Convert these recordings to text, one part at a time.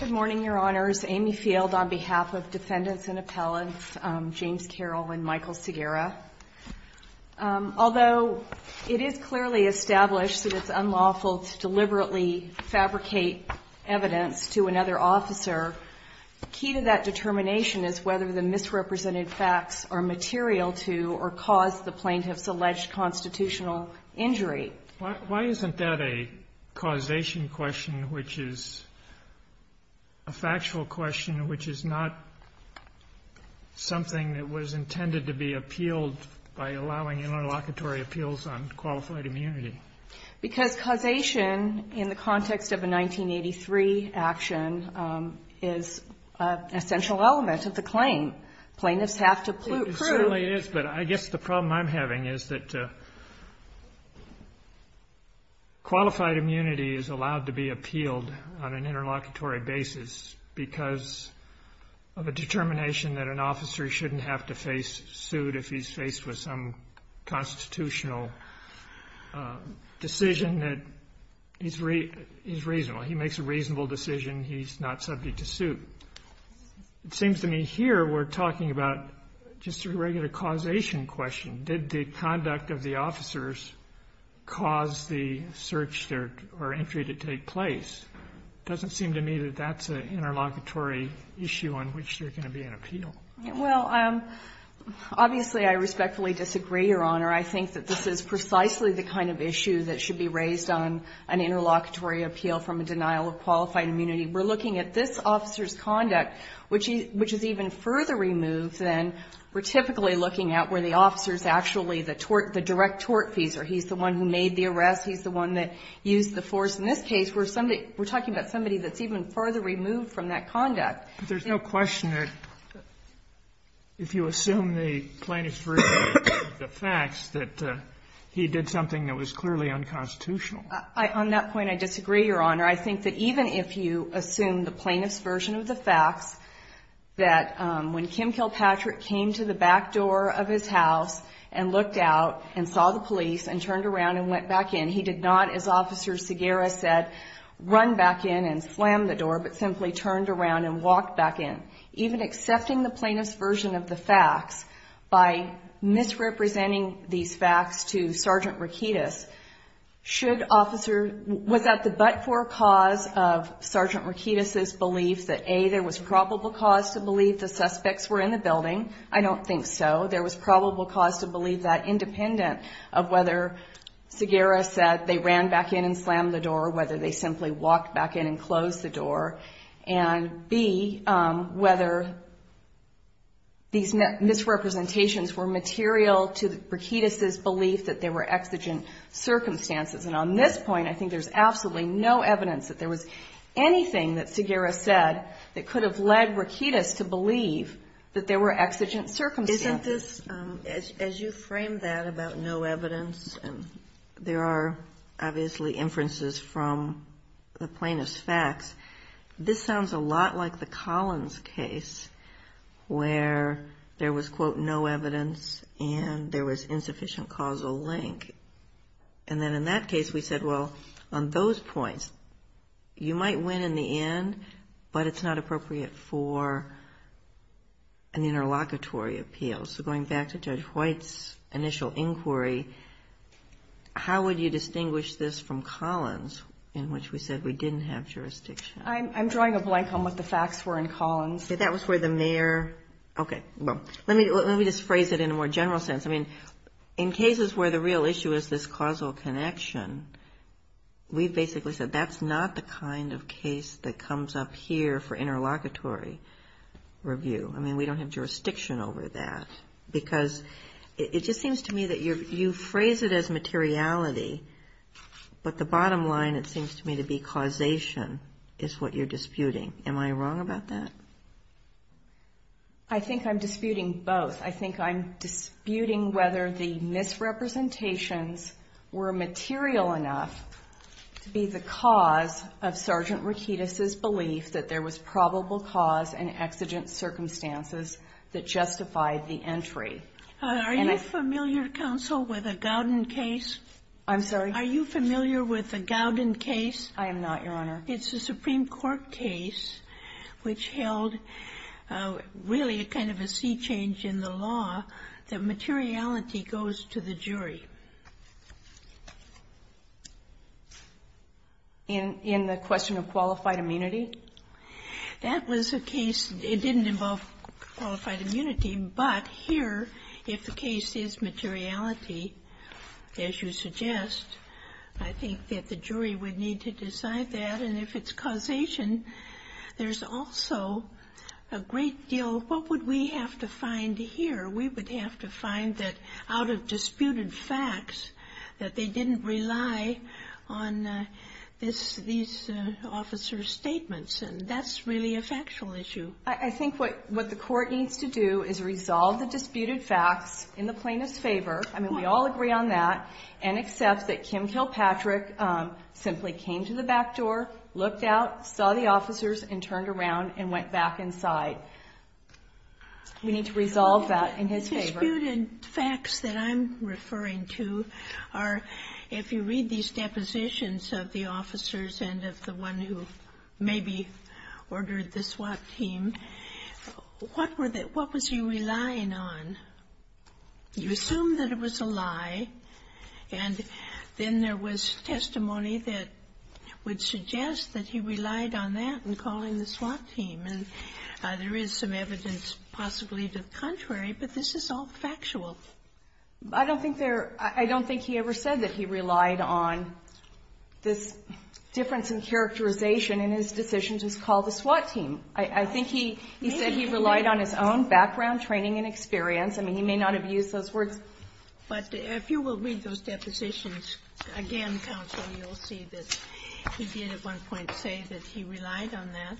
Good morning, Your Honors. Amy Field on behalf of Defendants and Appellants, James Carroll and Michael Segarra. Although it is clearly established that it's unlawful to deliberately fabricate evidence to another officer, the key to that determination is whether the misrepresented facts are material to or cause the plaintiff's alleged constitutional injury. Why isn't that a causation question, which is a factual question, which is not something that was intended to be appealed by allowing interlocutory appeals on qualified immunity? Because causation in the context of a 1983 action is an essential element of the claim. Plaintiffs have to prove. CARROLL It certainly is, but I guess the problem I'm having is that qualified immunity is allowed to be appealed on an interlocutory basis because of a determination that an officer shouldn't have to face suit if he's faced with some constitutional decision that is reasonable. He makes a reasonable decision. He's not subject to suit. It seems to me here we're talking about just a regular causation question. Did the conduct of the officers cause the search or entry to take place? It doesn't seem to me that that's an interlocutory issue on which there can be an appeal. FIELD Well, obviously, I respectfully disagree, Your Honor. I think that this is precisely the kind of issue that should be raised on an interlocutory appeal from a denial of qualified immunity. We're looking at this officer's conduct, which is even further removed than we're typically looking at where the officer is actually the direct tortfeasor. He's the one who made the arrest. He's the one that used the force. In this case, we're talking about somebody that's even further removed from that conduct. Kennedy But there's no question that if you assume the plaintiff's version of the facts, that he did something that was clearly unconstitutional. FIELD On that point, I disagree, Your Honor. I think that even if you assume the plaintiff's version of the facts, that when Kim Kilpatrick came to the back door of his house and looked out and saw the police and turned around and went back in, he did not, as Officer Segarra said, run back in and slam the door, but simply turned around and walked back in. Even accepting the plaintiff's version of the facts by misrepresenting these facts to Sergeant Rakitis's belief that, A, there was probable cause to believe the suspects were in the building. I don't think so. There was probable cause to believe that, independent of whether Segarra said they ran back in and slammed the door, whether they simply walked back in and closed the door, and, B, whether these misrepresentations were material to Rakitis's belief that they were exigent circumstances. And on this point, I think there's absolutely no evidence that there was anything that Segarra said that could have led Rakitis to believe that there were exigent circumstances. KAGAN Isn't this, as you frame that about no evidence, and there are obviously inferences from the plaintiff's facts, this sounds a lot like the Collins case where there was, quote, no evidence and there was In that case, we said, well, on those points, you might win in the end, but it's not appropriate for an interlocutory appeal. So going back to Judge White's initial inquiry, how would you distinguish this from Collins, in which we said we didn't have jurisdiction? WARREN I'm drawing a blank on what the facts were in Collins. That was where the mayor, okay, well, let me just phrase it in a more general sense. I mean, in cases where the real issue is this causal connection, we basically said that's not the kind of case that comes up here for interlocutory review. I mean, we don't have jurisdiction over that, because it just seems to me that you phrase it as materiality, but the bottom line, it seems to me, to be causation is what you're disputing. Am I wrong about that? WARREN I think I'm disputing both. I think I'm disputing whether the misrepresentations were material enough to be the cause of Sergeant Rikides' belief that there was probable cause and exigent circumstances that justified the entry. And I ---- Sotomayor Are you familiar, counsel, with the Gowden case? WARREN I'm sorry? Sotomayor Are you familiar with the Gowden case? WARREN I am not, Your Honor. It's a Supreme Court case which held really kind of a sea change in the law that materiality goes to the jury. Sotomayor In the question of qualified immunity? WARREN That was a case. It didn't involve qualified immunity. But here, if the case is materiality, as you suggest, I think that the jury would need to decide that. And if it's causation, there's also a great deal ---- What would we have to find here? We would have to find that out of disputed facts, that they didn't rely on this ---- these officers' statements. And that's really a factual issue. WARREN I think what the Court needs to do is resolve the disputed facts in the plaintiff's favor. I mean, we all agree on that, and accept that Kim Kilpatrick simply came to the back door, looked out, saw the officers, and turned around and went back inside. We need to resolve that in his favor. Sotomayor The disputed facts that I'm referring to are, if you read these depositions of the officers and of the one who maybe ordered the swap team, what were the ---- what was he relying on? You assume that it was a lie, and then there was testimony that would suggest that he relied on that in calling the swap team. And there is some evidence possibly to the contrary, but this is all factual. I don't think there ---- I don't think he ever said that he relied on this difference in characterization in his decision to call the swap team. I think he said he relied on his own background, training, and experience. I mean, he may not have used those words. Ginsburg But if you will read those depositions again, counsel, you'll see that he did at one point say that he relied on that.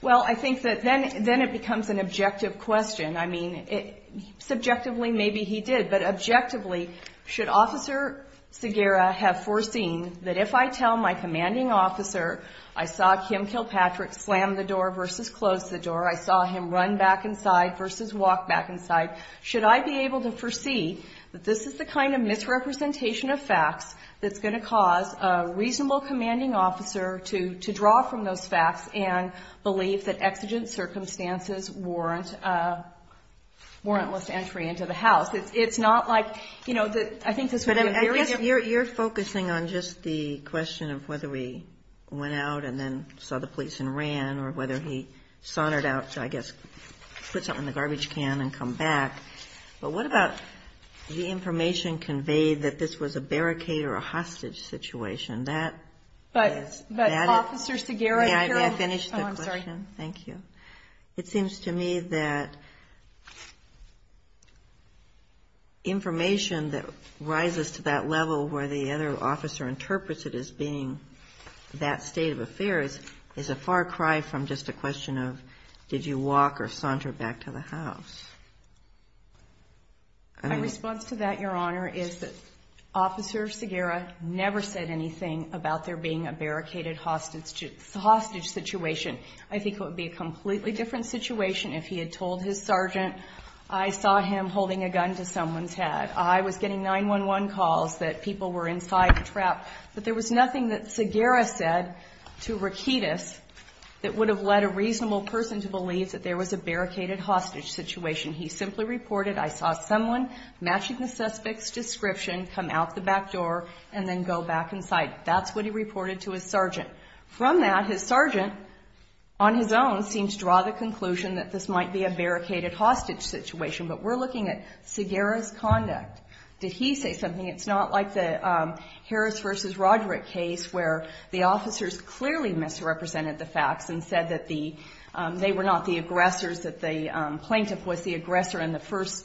WARREN Well, I think that then it becomes an objective question. I mean, subjectively, maybe he did. But objectively, should Officer Segarra have foreseen that if I tell my commanding officer I saw Kim Kilpatrick slam the door versus close the door, I saw him run back inside versus walk back inside, should I be able to foresee that this is the kind of misrepresentation of facts that's going to cause a reasonable commanding officer to draw from those facts and believe that exigent circumstances warrant less entry into the house? It's not like, you know, I think this would be a very ---- Kagan You're focusing on just the question of whether he went out and then saw the police and ran, or whether he sauntered out to, I guess, put something in the garbage can and come back. But what about the information conveyed that this was a barricade or a hostage situation? That ---- WARREN But Officer Segarra ---- WARREN Oh, I'm sorry. Thank you. It seems to me that information that rises to that level where the other officer interprets it as being that state of affairs is a far cry from just a question of did you walk or saunter back to the house. And ---- Kagan My response to that, Your Honor, is that Officer Segarra never said anything about there being a barricaded hostage situation. I think it would be a completely different situation if he had told his sergeant, I saw him holding a gun to someone's head. I was getting 911 calls that people were inside a trap. But there was nothing that Segarra said to Rakitis that would have led a reasonable person to believe that there was a barricaded hostage situation. He simply reported, I saw someone matching the suspect's description come out the back door and then go back inside. That's what he reported to his sergeant. From that, his sergeant, on his own, seems to draw the conclusion that this might be a barricaded hostage situation. But we're looking at Segarra's conduct. Did he say something? It's not like the Harris v. Roderick case where the officers clearly misrepresented the facts and said that the ---- they were not the aggressors, that the plaintiff was the aggressor in the first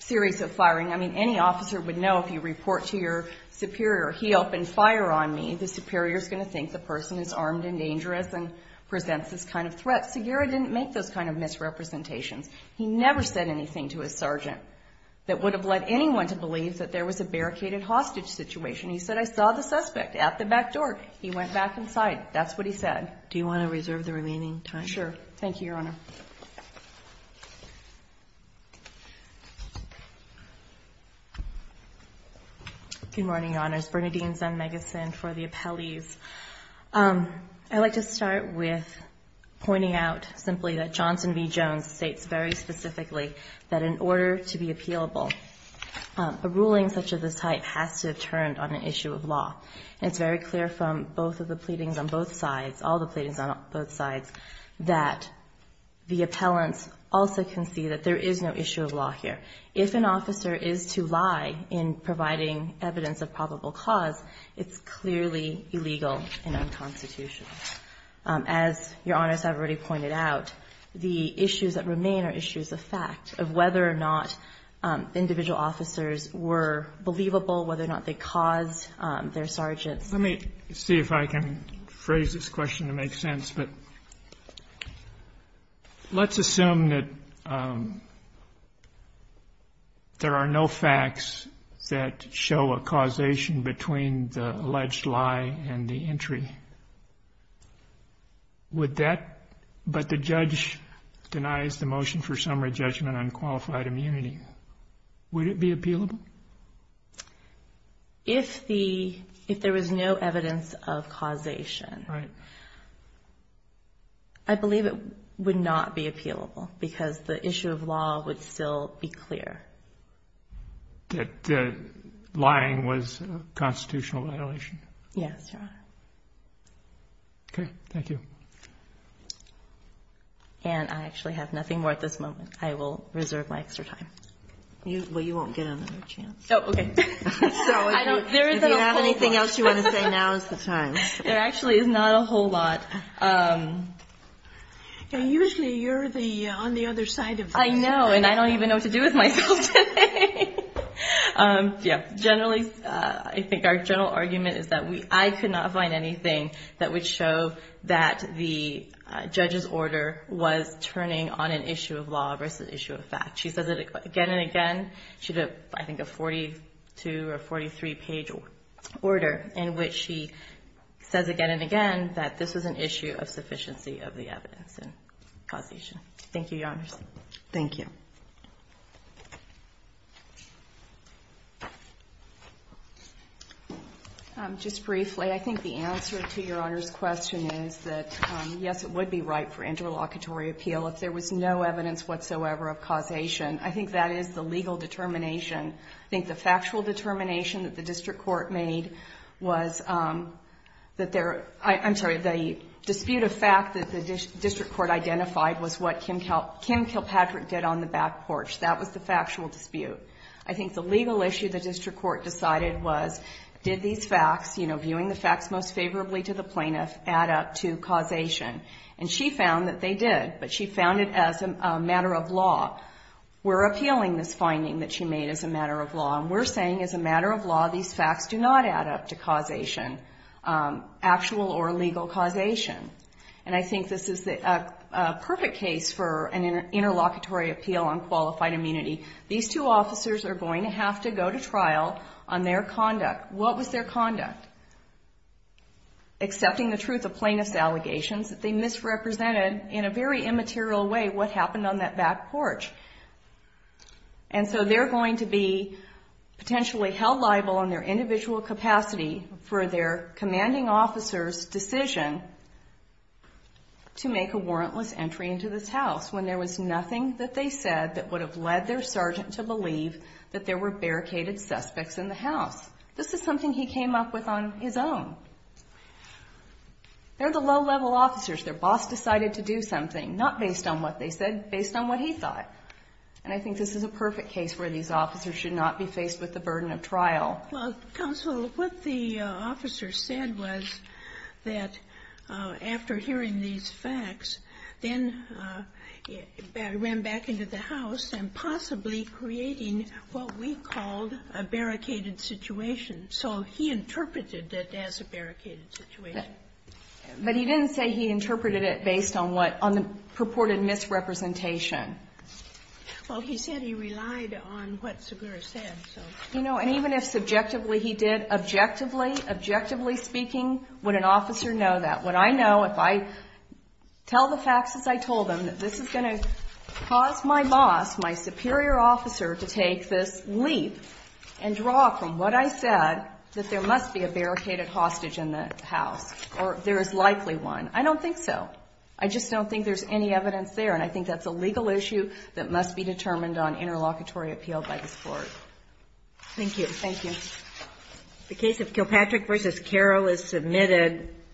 series of firing. I mean, any officer would know if you report to your superior, he opened fire on me, the superior is going to think the person is armed and dangerous and presents this kind of threat. Segarra didn't make those kind of misrepresentations. He never said anything to his sergeant that would have led anyone to believe that there was a barricaded hostage situation. He said, I saw the suspect at the back door. He went back inside. That's what he said. Do you want to reserve the remaining time? Sure. Thank you, Your Honor. Good morning, Your Honors. Bernadine Zemmegeson for the appellees. I'd like to start with pointing out simply that Johnson v. Jones states very specifically that in order to be appealable, a ruling such as this type has to have turned on an issue of law. And it's very clear from both of the pleadings on both sides, all the pleadings on both sides, that the appellants also can see that there is no issue of law here. If an officer is to lie in providing evidence of probable cause, it's clearly illegal and unconstitutional. As Your Honors have already pointed out, the issues that remain are issues of fact, of whether or not individual officers were believable, whether or not they caused their sergeants. Let me see if I can phrase this question to make sense. Let's assume that there are no facts that show a causation between the alleged lie and the entry. But the judge denies the motion for summary judgment on qualified immunity. Would it be appealable? If there was no evidence of causation, I believe it would not be appealable because the issue of law would still be clear. That lying was a constitutional violation? Yes, Your Honor. Okay. Thank you. And I actually have nothing more at this moment. I will reserve my extra time. Well, you won't get another chance. Oh, okay. If you have anything else you want to say, now is the time. There actually is not a whole lot. Usually you're on the other side of things. I know, and I don't even know what to do with myself today. Generally, I think our general argument is that I could not find anything that would show that the judge's order was turning on an issue of law versus an issue of fact. She says it again and again. She had, I think, a 42- or 43-page order in which she says again and again that this was an issue of sufficiency of the evidence and causation. Thank you, Your Honors. Thank you. Just briefly, I think the answer to Your Honor's question is that, yes, it would be right for interlocutory appeal if there was no evidence whatsoever of causation. I think that is the legal determination. I think the factual determination that the district court made was that there was a dispute of fact that the district court identified was what Kim Kilpatrick did on the back porch. That was the factual dispute. I think the legal issue the district court decided was did these facts, viewing the facts most favorably to the plaintiff, add up to causation? And she found that they did, but she found it as a matter of law. We're appealing this finding that she made as a matter of law, and we're saying as a matter of law these facts do not add up to causation, actual or legal causation. And I think this is a perfect case for an interlocutory appeal on qualified immunity. These two officers are going to have to go to trial on their conduct. What was their conduct? Accepting the truth of plaintiff's allegations that they misrepresented in a very immaterial way what happened on that back porch. And so they're going to be potentially held liable in their individual capacity for their commanding officer's decision to make a warrantless entry into this house when there was nothing that they said that would have led their sergeant to believe that there were barricaded suspects in the house. This is something he came up with on his own. They're the low-level officers. Their boss decided to do something, not based on what they said, based on what he thought. And I think this is a perfect case where these officers should not be faced with the burden of trial. Counsel, what the officer said was that after hearing these facts, then ran back into the house and possibly creating what we called a barricaded situation. So he interpreted it as a barricaded situation. But he didn't say he interpreted it based on what, on the purported misrepresentation. Well, he said he relied on what Segura said. You know, and even if subjectively he did, objectively, objectively speaking, would an officer know that? What I know, if I tell the facts as I told them, that this is going to cause my boss, my superior officer to take this leap and draw from what I said, that there must be a barricaded hostage in the house. Or there is likely one. I don't think so. I just don't think there's any evidence there. And I think that's a legal issue that must be determined on interlocutory appeal by this Court. Thank you. Thank you. The case of Kilpatrick v. Carroll is submitted.